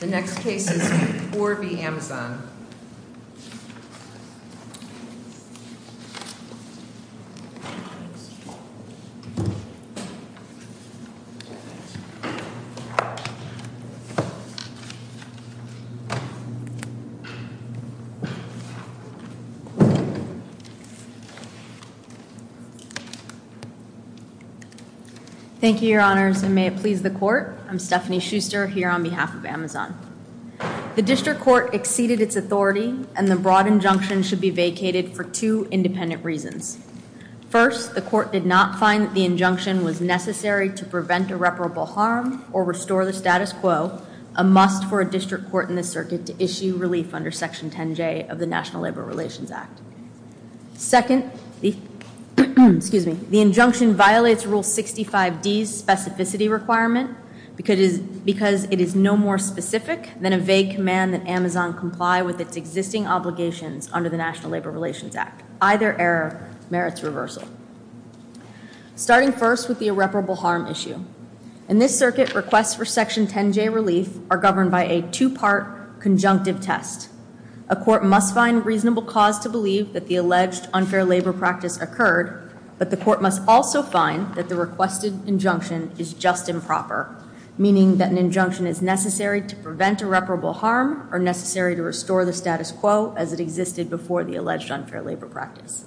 The next case is 4 v. Amazon. Thank you, your honors, and may it please the court. I'm Stephanie Schuster here on behalf of Amazon. The district court exceeded its authority and the broad injunction should be vacated for two independent reasons. First, the court did not find that the injunction was necessary to prevent irreparable harm or restore the status quo, a must for a district court in the circuit to issue relief under Section 10J of the National Labor Relations Act. Second, the injunction violates Rule 65D's specificity requirement because it is no more specific than a vague command that Amazon comply with its existing obligations under the National Labor Relations Act. Either error merits reversal. Starting first with the irreparable harm issue. In this circuit, requests for Section 10J relief are governed by a two-part conjunctive test. A court must find reasonable cause to believe that the alleged unfair labor practice occurred, but the court must also find that the requested injunction is just improper, meaning that an injunction is necessary to prevent irreparable harm or necessary to restore the status quo as it existed before the alleged unfair labor practice.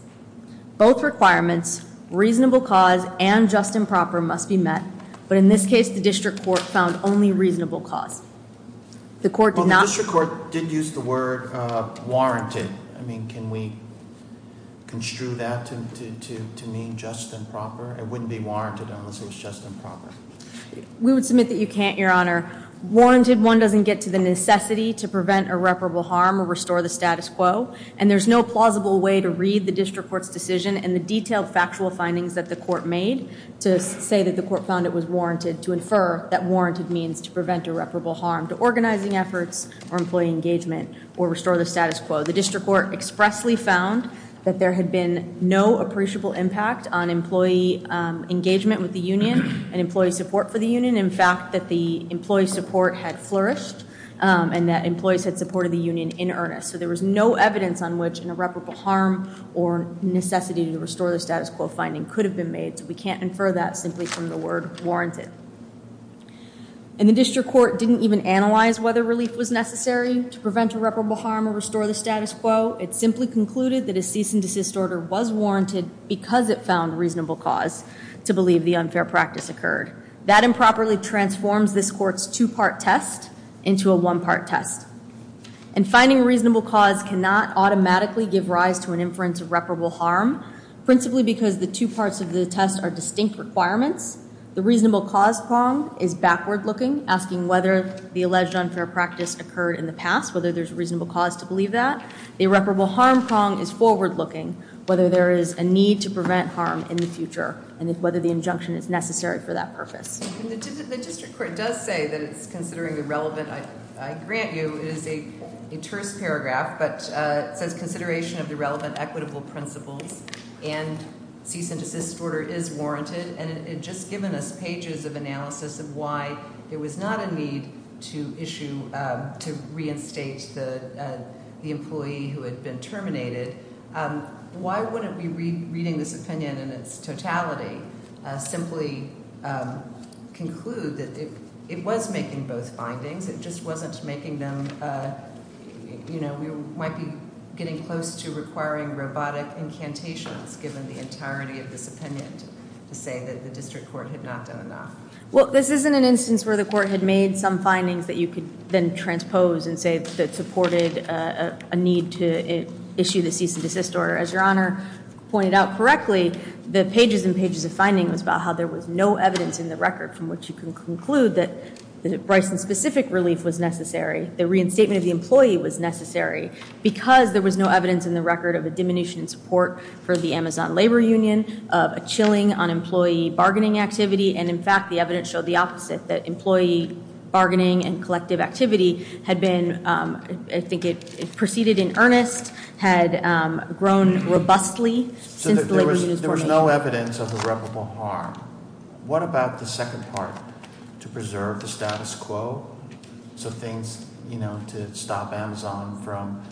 Both requirements, reasonable cause and just improper, must be met, but in this case the district court found only reasonable cause. The court did not- Well, the district court did use the word warranted. I mean, can we construe that to mean just and proper? It wouldn't be warranted unless it was just and proper. We would submit that you can't, Your Honor. Warranted one doesn't get to the necessity to prevent irreparable harm or restore the status quo, and there's no plausible way to read the district court's decision and the detailed factual findings that the court made to say that the court found it was warranted to infer that warranted means to prevent irreparable harm to organizing efforts or employee engagement or restore the status quo. The district court expressly found that there had been no appreciable impact on employee engagement with the union and employee support for the union. In fact, that the employee support had flourished and that employees had supported the union in earnest, so there was no evidence on which an irreparable harm or necessity to restore the status quo finding could have been made, so we can't infer that simply from the word warranted. And the district court didn't even analyze whether relief was necessary to prevent irreparable harm or restore the status quo. It simply concluded that a cease and desist order was warranted because it found reasonable cause to believe the unfair practice occurred. That improperly transforms this court's two-part test into a one-part test. And finding reasonable cause cannot automatically give rise to an inference of reparable harm, principally because the two parts of the test are distinct requirements. The reasonable cause prong is backward-looking, asking whether the alleged unfair practice occurred in the past, whether there's a reasonable cause to believe that. The irreparable harm prong is forward-looking, whether there is a need to prevent harm in the future and whether the injunction is necessary for that purpose. And the district court does say that it's considering the relevant, I grant you, it is a terse paragraph, but it says consideration of the relevant equitable principles and cease and desist order is warranted. And it had just given us pages of analysis of why there was not a need to issue, to reinstate the employee who had been terminated. Why wouldn't we, reading this opinion in its totality, simply conclude that it was making both findings, it just wasn't making them, you know, we might be getting close to requiring robotic incantations, given the entirety of this opinion to say that the district court had not done enough? Well, this isn't an instance where the court had made some findings that you could then transpose and say that supported a need to issue the cease and desist order. As Your Honor pointed out correctly, the pages and pages of findings was about how there was no evidence in the record from which you can conclude that Bryson-specific relief was necessary, the reinstatement of the employee was necessary, because there was no evidence in the record of a diminution in support for the Amazon Labor Union, of a chilling on employee bargaining activity, and in fact the evidence showed the opposite, that employee bargaining and collective activity had been, I think it proceeded in earnest, had grown robustly since the labor union formation. So there was no evidence of irreparable harm. What about the second part? To preserve the status quo? So things, you know, to stop Amazon from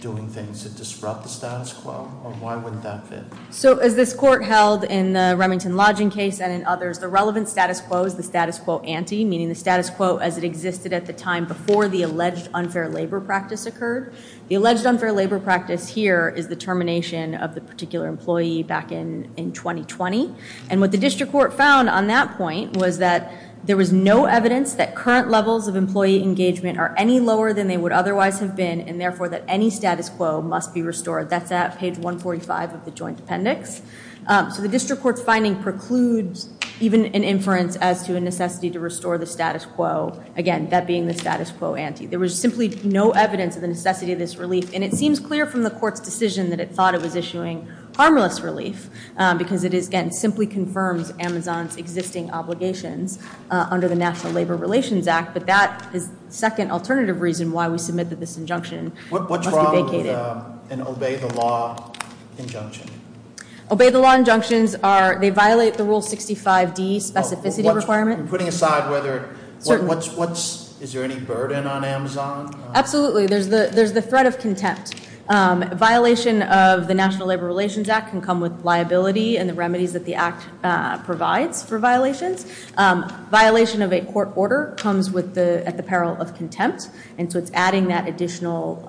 doing things to disrupt the status quo? Or why wouldn't that fit? So as this court held in the Remington Lodging case and in others, the relevant status quo is the status quo ante, meaning the status quo as it existed at the time before the alleged unfair labor practice occurred. The alleged unfair labor practice here is the termination of the particular employee back in 2020, and what the district court found on that point was that there was no evidence that current levels of employee engagement are any lower than they would otherwise have been, and therefore that any status quo must be restored. That's at page 145 of the joint appendix. So the district court's finding precludes even an inference as to a necessity to restore the status quo, again, that being the status quo ante. There was simply no evidence of the necessity of this relief, and it seems clear from the court's decision that it thought it was issuing harmless relief, because it, again, simply confirms Amazon's existing obligations under the National Labor Relations Act, but that is the second alternative reason why we submit that this injunction must be vacated. What's wrong with an obey-the-law injunction? Obey-the-law injunctions are, they violate the Rule 65D specificity requirement. Putting aside whether, is there any burden on Amazon? Absolutely. There's the threat of contempt. Violation of the National Labor Relations Act can come with liability and the remedies that the Act provides for violations. Violation of a court order comes at the peril of contempt, and so it's adding that additional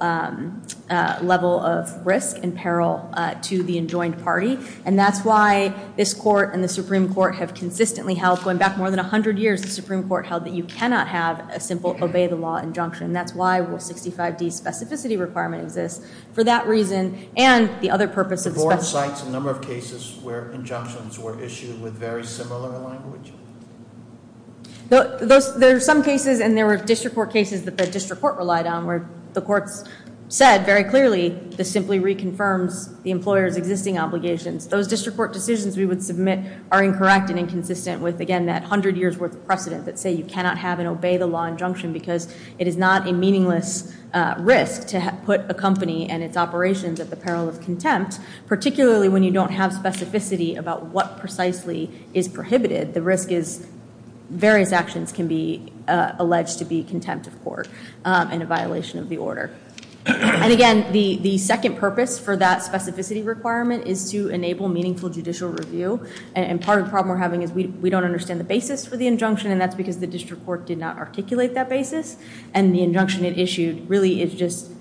level of risk and peril to the enjoined party, and that's why this court and the Supreme Court have consistently held, going back more than 100 years, the Supreme Court held that you cannot have a simple obey-the-law injunction. And that's why Rule 65D's specificity requirement exists. For that reason and the other purposes- The board cites a number of cases where injunctions were issued with very similar language. There are some cases and there were district court cases that the district court relied on where the courts said very clearly this simply reconfirms the employer's existing obligations. Those district court decisions we would submit are incorrect and inconsistent with, again, that 100 years worth of precedent that say you cannot have an obey-the-law injunction because it is not a meaningless risk to put a company and its operations at the peril of contempt, particularly when you don't have specificity about what precisely is prohibited. The risk is various actions can be alleged to be contempt of court and a violation of the order. And again, the second purpose for that specificity requirement is to enable meaningful judicial review, and part of the problem we're having is we don't understand the basis for the injunction, and that's because the district court did not articulate that basis, and the injunction it issued really is just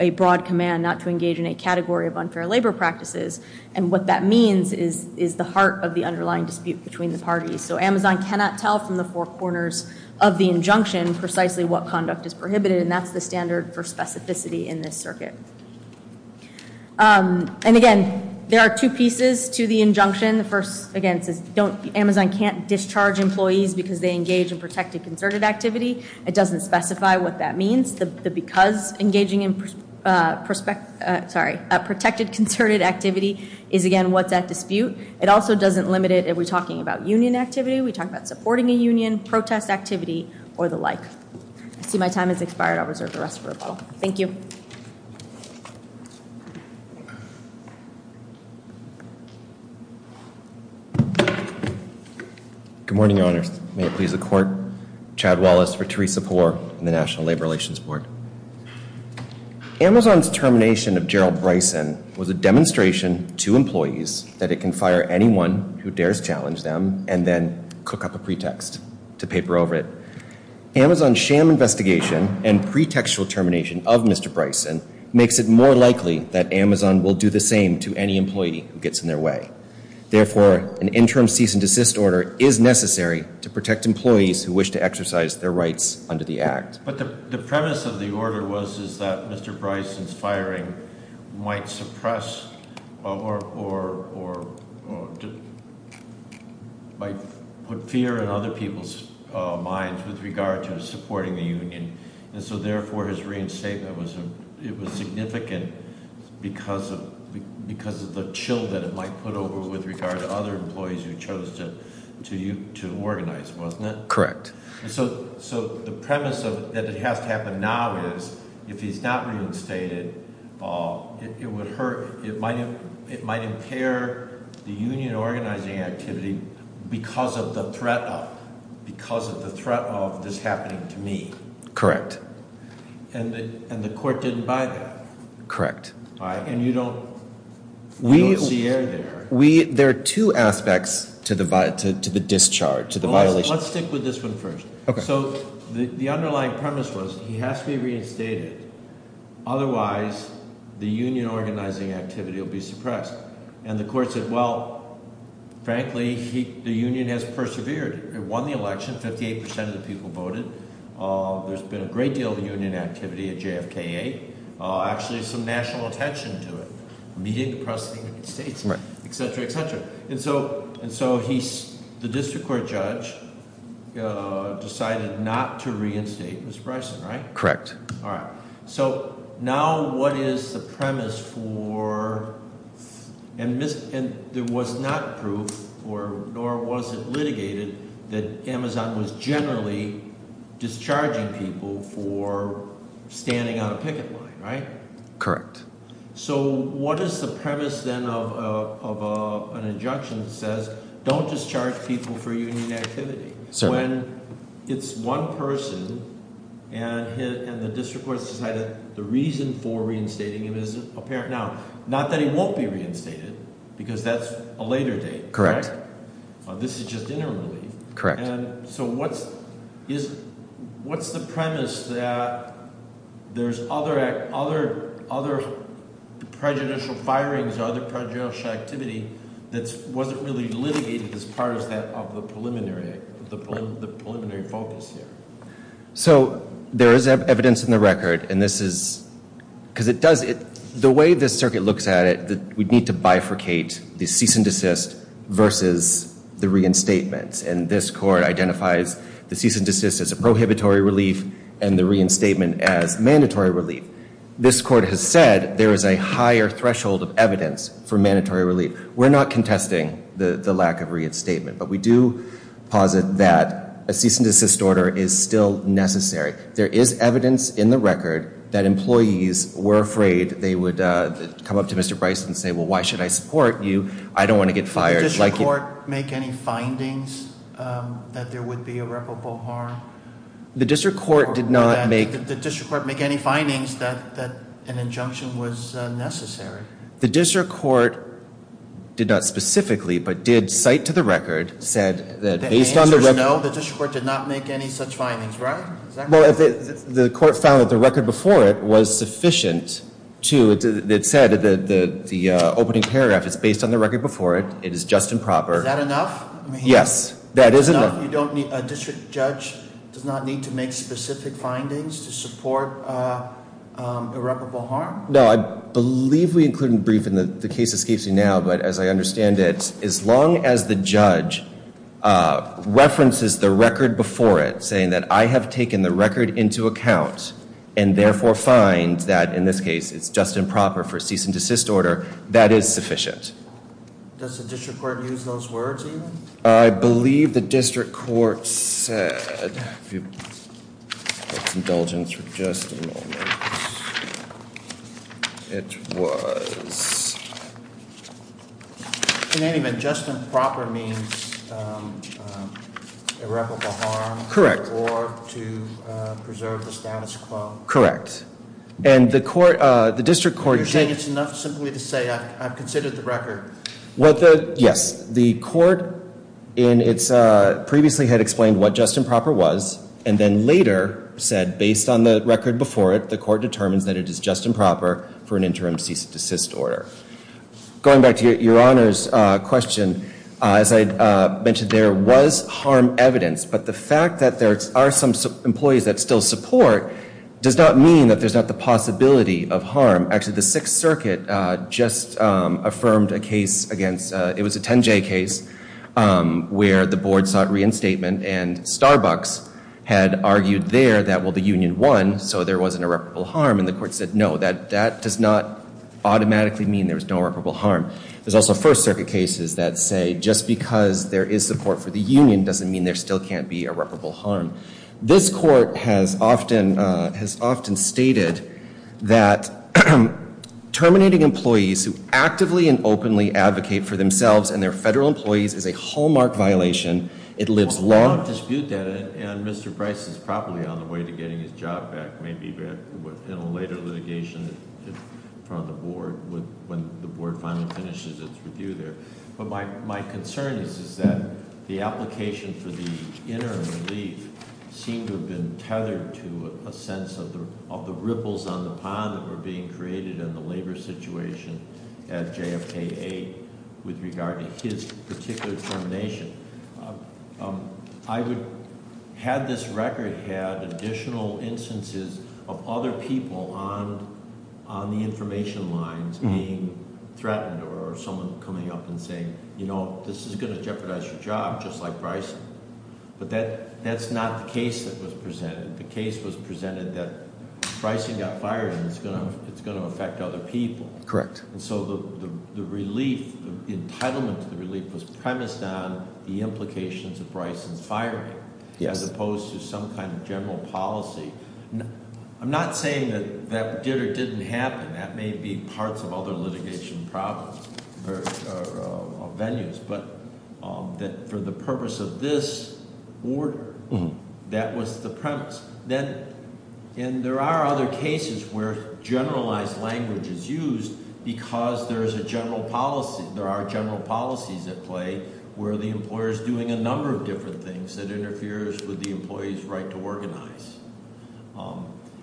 a broad command not to engage in a category of unfair labor practices. And what that means is the heart of the underlying dispute between the parties. So Amazon cannot tell from the four corners of the injunction precisely what conduct is prohibited, and that's the standard for specificity in this circuit. And again, there are two pieces to the injunction. The first, again, says Amazon can't discharge employees because they engage in protected concerted activity. It doesn't specify what that means. The because engaging in protected concerted activity is, again, what's at dispute. It also doesn't limit it. Are we talking about union activity? Are we talking about supporting a union, protest activity, or the like? I see my time has expired. I'll reserve the rest for a moment. Thank you. Good morning, Your Honors. May it please the court. Chad Wallace for Theresa Poore in the National Labor Relations Board. Amazon's termination of Gerald Bryson was a demonstration to employees that it can fire anyone who dares challenge them and then cook up a pretext to paper over it. Amazon's sham investigation and pretextual termination of Mr. Bryson makes it more likely that Amazon will do the same to any employee who gets in their way. Therefore, an interim cease and desist order is necessary to protect employees who wish to exercise their rights under the act. But the premise of the order was that Mr. Bryson's firing might suppress or put fear in other people's minds with regard to supporting the union. And so therefore, his reinstatement was significant because of the chill that it might put over with regard to other employees who chose to organize, wasn't it? Correct. So the premise that it has to happen now is if he's not reinstated, it might impair the union organizing activity because of the threat of this happening to me. Correct. And the court didn't buy that. Correct. And you don't see air there. There are two aspects to the discharge, to the violation. Let's stick with this one first. So the underlying premise was he has to be reinstated. Otherwise, the union organizing activity will be suppressed. And the court said, well, frankly, the union has persevered. It won the election. 58% of the people voted. There's been a great deal of union activity at JFKA. Actually, some national attention to it. Meeting across the United States, etc., etc. And so the district court judge decided not to reinstate Mr. Bryson, right? Correct. All right. So now what is the premise for and there was not proof, nor was it litigated, that Amazon was generally discharging people for standing on a picket line, right? Correct. So what is the premise then of an injunction that says don't discharge people for union activity? When it's one person and the district court has decided the reason for reinstating him isn't apparent now. Not that he won't be reinstated because that's a later date. Correct. This is just interim relief. Correct. And so what's the premise that there's other prejudicial firings or other prejudicial activity that wasn't really litigated as part of the preliminary focus here? So there is evidence in the record. Because the way this circuit looks at it, we need to bifurcate the cease and desist versus the reinstatement. And this court identifies the cease and desist as a prohibitory relief and the reinstatement as mandatory relief. This court has said there is a higher threshold of evidence for mandatory relief. We're not contesting the lack of reinstatement. But we do posit that a cease and desist order is still necessary. There is evidence in the record that employees were afraid they would come up to Mr. Bryson and say, well, why should I support you? I don't want to get fired. Did the district court make any findings that there would be irreparable harm? The district court did not make. Did the district court make any findings that an injunction was necessary? The district court did not specifically, but did cite to the record, said that based on the... The answer is no. The district court did not make any such findings, right? Well, the court found that the record before it was sufficient to... It said that the opening paragraph is based on the record before it. It is just and proper. Is that enough? Yes. That is enough. A district judge does not need to make specific findings to support irreparable harm? No. I believe we include in the brief, and the case escapes me now, but as I understand it, as long as the judge references the record before it, saying that I have taken the record into account, and therefore find that, in this case, it's just and proper for a cease and desist order, that is sufficient. Does the district court use those words, even? I believe the district court said... If you'll get some indulgence for just a moment. It was... In any event, just and proper means irreparable harm. Correct. Or to preserve the status quo. Correct. And the district court... You're saying it's enough simply to say, I've considered the record. Yes. The court previously had explained what just and proper was, and then later said, based on the record before it, the court determines that it is just and proper for an interim cease and desist order. Going back to your Honor's question, as I mentioned, there was harm evidence, but the fact that there are some employees that still support does not mean that there's not the possibility of harm. Actually, the Sixth Circuit just affirmed a case against... It was a 10J case where the board sought reinstatement, and Starbucks had argued there that, well, the union won, so there wasn't irreparable harm, and the court said, no, that does not automatically mean there's no irreparable harm. There's also First Circuit cases that say just because there is support for the union doesn't mean there still can't be irreparable harm. This court has often stated that terminating employees who actively and openly advocate for themselves and their federal employees is a hallmark violation. It lives long. I don't dispute that, and Mr. Price is probably on the way to getting his job back, maybe in a later litigation in front of the board when the board finally finishes its review there. But my concern is that the application for the interim leave seemed to have been tethered to a sense of the ripples on the pond that were being created in the labor situation at JFK-8 with regard to his particular termination. Had this record had additional instances of other people on the information lines being threatened or someone coming up and saying, you know, this is going to jeopardize your job, just like Bryson. But that's not the case that was presented. The case was presented that Bryson got fired and it's going to affect other people. Correct. And so the relief, the entitlement to the relief was premised on the implications of Bryson's firing as opposed to some kind of general policy. I'm not saying that that did or didn't happen. That may be parts of other litigation problems or venues. But for the purpose of this order, that was the premise. And there are other cases where generalized language is used because there is a general policy. There are general policies at play where the employer is doing a number of different things that interferes with the employee's right to organize.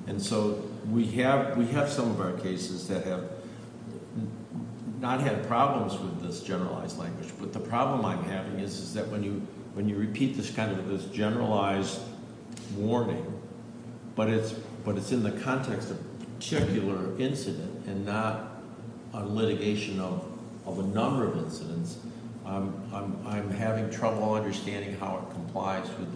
And so we have some of our cases that have not had problems with this generalized language. But the problem I'm having is that when you repeat this kind of this generalized warning, but it's in the context of a particular incident and not a litigation of a number of incidents, I'm having trouble understanding how it complies with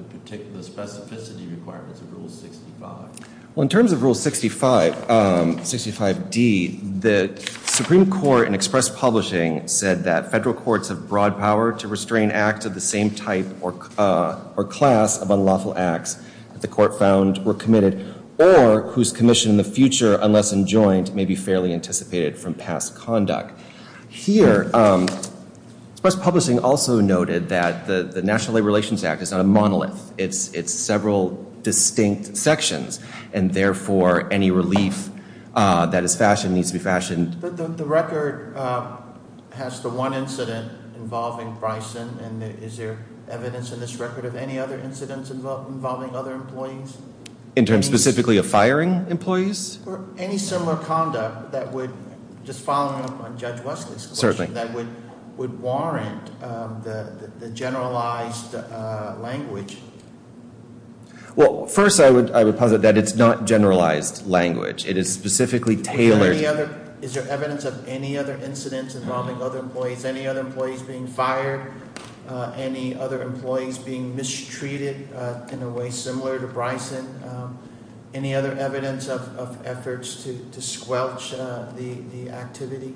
the specificity requirements of Rule 65. Well, in terms of Rule 65d, the Supreme Court in express publishing said that federal courts have broad power to restrain acts of the same type or class of unlawful acts that the court found were committed or whose commission in the future, unless enjoined, may be fairly anticipated from past conduct. Here, express publishing also noted that the National Labor Relations Act is not a monolith. It's several distinct sections. And therefore, any relief that is fashioned needs to be fashioned. The record has the one incident involving Bryson. And is there evidence in this record of any other incidents involving other employees? In terms specifically of firing employees? Or any similar conduct that would, just following up on Judge Wesley's question, that would warrant the generalized language? Well, first I would posit that it's not generalized language. It is specifically tailored. Is there evidence of any other incidents involving other employees? Any other employees being fired? Any other employees being mistreated in a way similar to Bryson? Any other evidence of efforts to squelch the activity?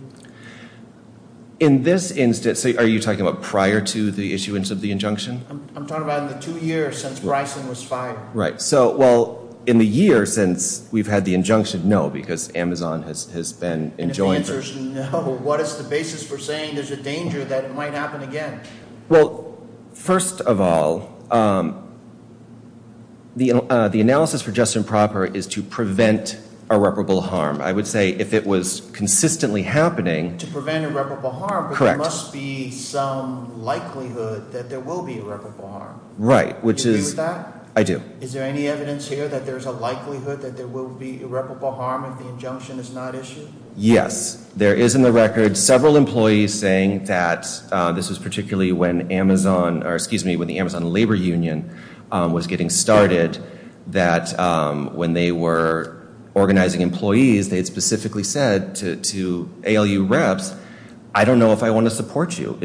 In this instance, are you talking about prior to the issuance of the injunction? I'm talking about in the two years since Bryson was fired. Right. So, well, in the year since we've had the injunction, no, because Amazon has been enjoined. And if the answer is no, what is the basis for saying there's a danger that it might happen again? Well, first of all, the analysis for just and proper is to prevent irreparable harm. I would say if it was consistently happening. To prevent irreparable harm, but there must be some likelihood that there will be irreparable harm. Right. Do you agree with that? I do. Is there any evidence here that there's a likelihood that there will be irreparable harm if the injunction is not issued? Yes. There is in the record several employees saying that this was particularly when Amazon, or excuse me, when the Amazon Labor Union was getting started, that when they were organizing employees, they had specifically said to ALU reps, I don't know if I want to support you.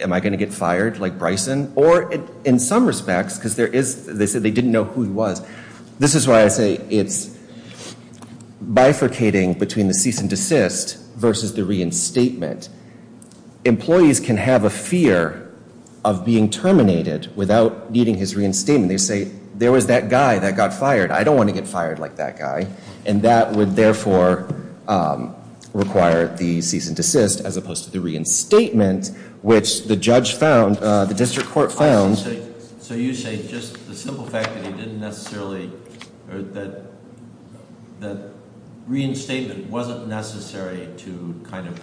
Am I going to get fired like Bryson? Or in some respects, because there is, they said they didn't know who he was. This is why I say it's bifurcating between the cease and desist versus the reinstatement. Employees can have a fear of being terminated without needing his reinstatement. They say, there was that guy that got fired. I don't want to get fired like that guy. And that would, therefore, require the cease and desist as opposed to the reinstatement, which the judge found, the district court found. So you say just the simple fact that he didn't necessarily, or that reinstatement wasn't necessary to kind of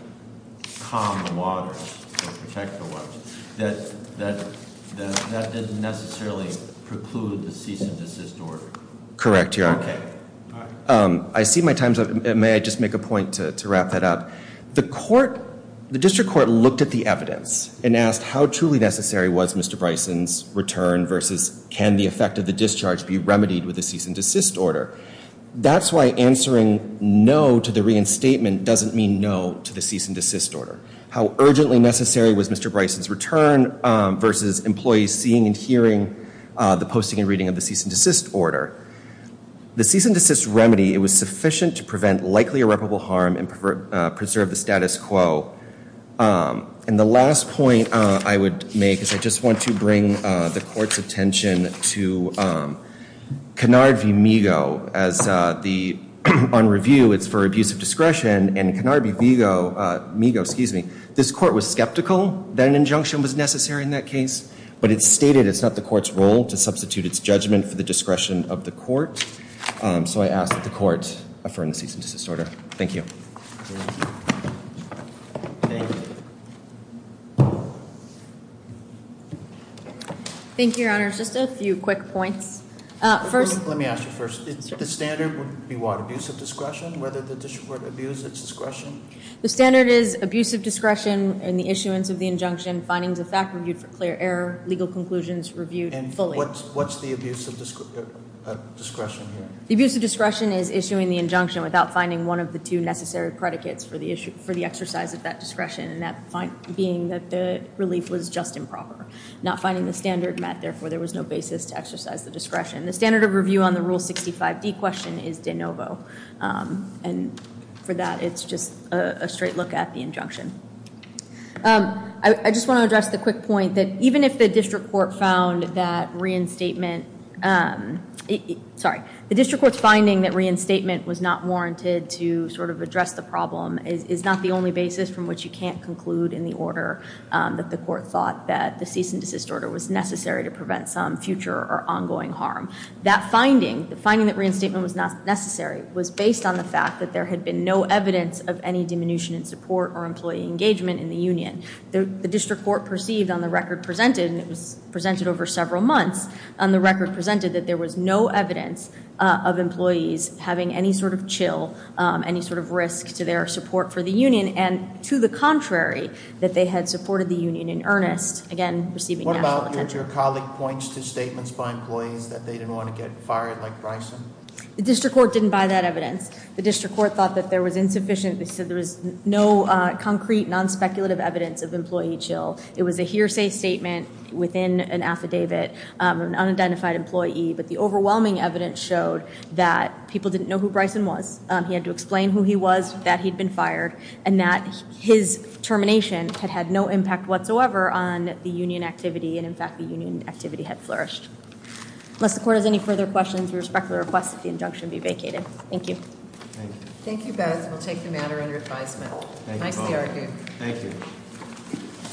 calm the waters or protect the waters, that that didn't necessarily preclude the cease and desist order? Correct, Your Honor. Okay. I see my time's up. May I just make a point to wrap that up? The district court looked at the evidence and asked how truly necessary was Mr. Bryson's return versus can the effect of the discharge be remedied with the cease and desist order? That's why answering no to the reinstatement doesn't mean no to the cease and desist order. How urgently necessary was Mr. Bryson's return versus employees seeing and hearing the posting and reading of the cease and desist order? The cease and desist remedy, it was sufficient to prevent likely irreparable harm and preserve the status quo. And the last point I would make is I just want to bring the court's attention to Canard v. Migo. On review, it's for abuse of discretion, and Canard v. Migo, this court was skeptical that an injunction was necessary in that case, but it stated it's not the court's role to substitute its judgment for the discretion of the court. So I ask that the court affirm the cease and desist order. Thank you. Thank you, Your Honor. Just a few quick points. Let me ask you first. The standard would be what, abuse of discretion, whether the district court abused its discretion? The standard is abuse of discretion in the issuance of the injunction, findings of fact reviewed for clear error, legal conclusions reviewed fully. And what's the abuse of discretion here? The abuse of discretion is issuing the injunction without finding one of the two necessary predicates for the exercise of that discretion, and that being that the relief was just improper. Not finding the standard met, therefore there was no basis to exercise the discretion. The standard of review on the Rule 65D question is de novo, and for that it's just a straight look at the injunction. I just want to address the quick point that even if the district court found that reinstatement, sorry, the district court's finding that reinstatement was not warranted to sort of address the problem is not the only basis from which you can't conclude in the order that the court thought that the cease and desist order was necessary to prevent some future or ongoing harm. That finding, the finding that reinstatement was not necessary, was based on the fact that there had been no evidence of any diminution in support or employee engagement in the union. The district court perceived on the record presented, and it was presented over several months, on the record presented that there was no evidence of employees having any sort of chill, any sort of risk to their support for the union. And to the contrary, that they had supported the union in earnest, again, receiving national attention. What about your colleague points to statements by employees that they didn't want to get fired like Bryson? The district court didn't buy that evidence. The district court thought that there was insufficient, they said there was no concrete, non-speculative evidence of employee chill. It was a hearsay statement within an affidavit of an unidentified employee, but the overwhelming evidence showed that people didn't know who Bryson was. He had to explain who he was, that he'd been fired, and that his termination had had no impact whatsoever on the union activity, and in fact the union activity had flourished. Unless the court has any further questions, we respectfully request that the injunction be vacated. Thank you. Thank you, Beth. We'll take the matter under advisement. Nicely argued. Thank you.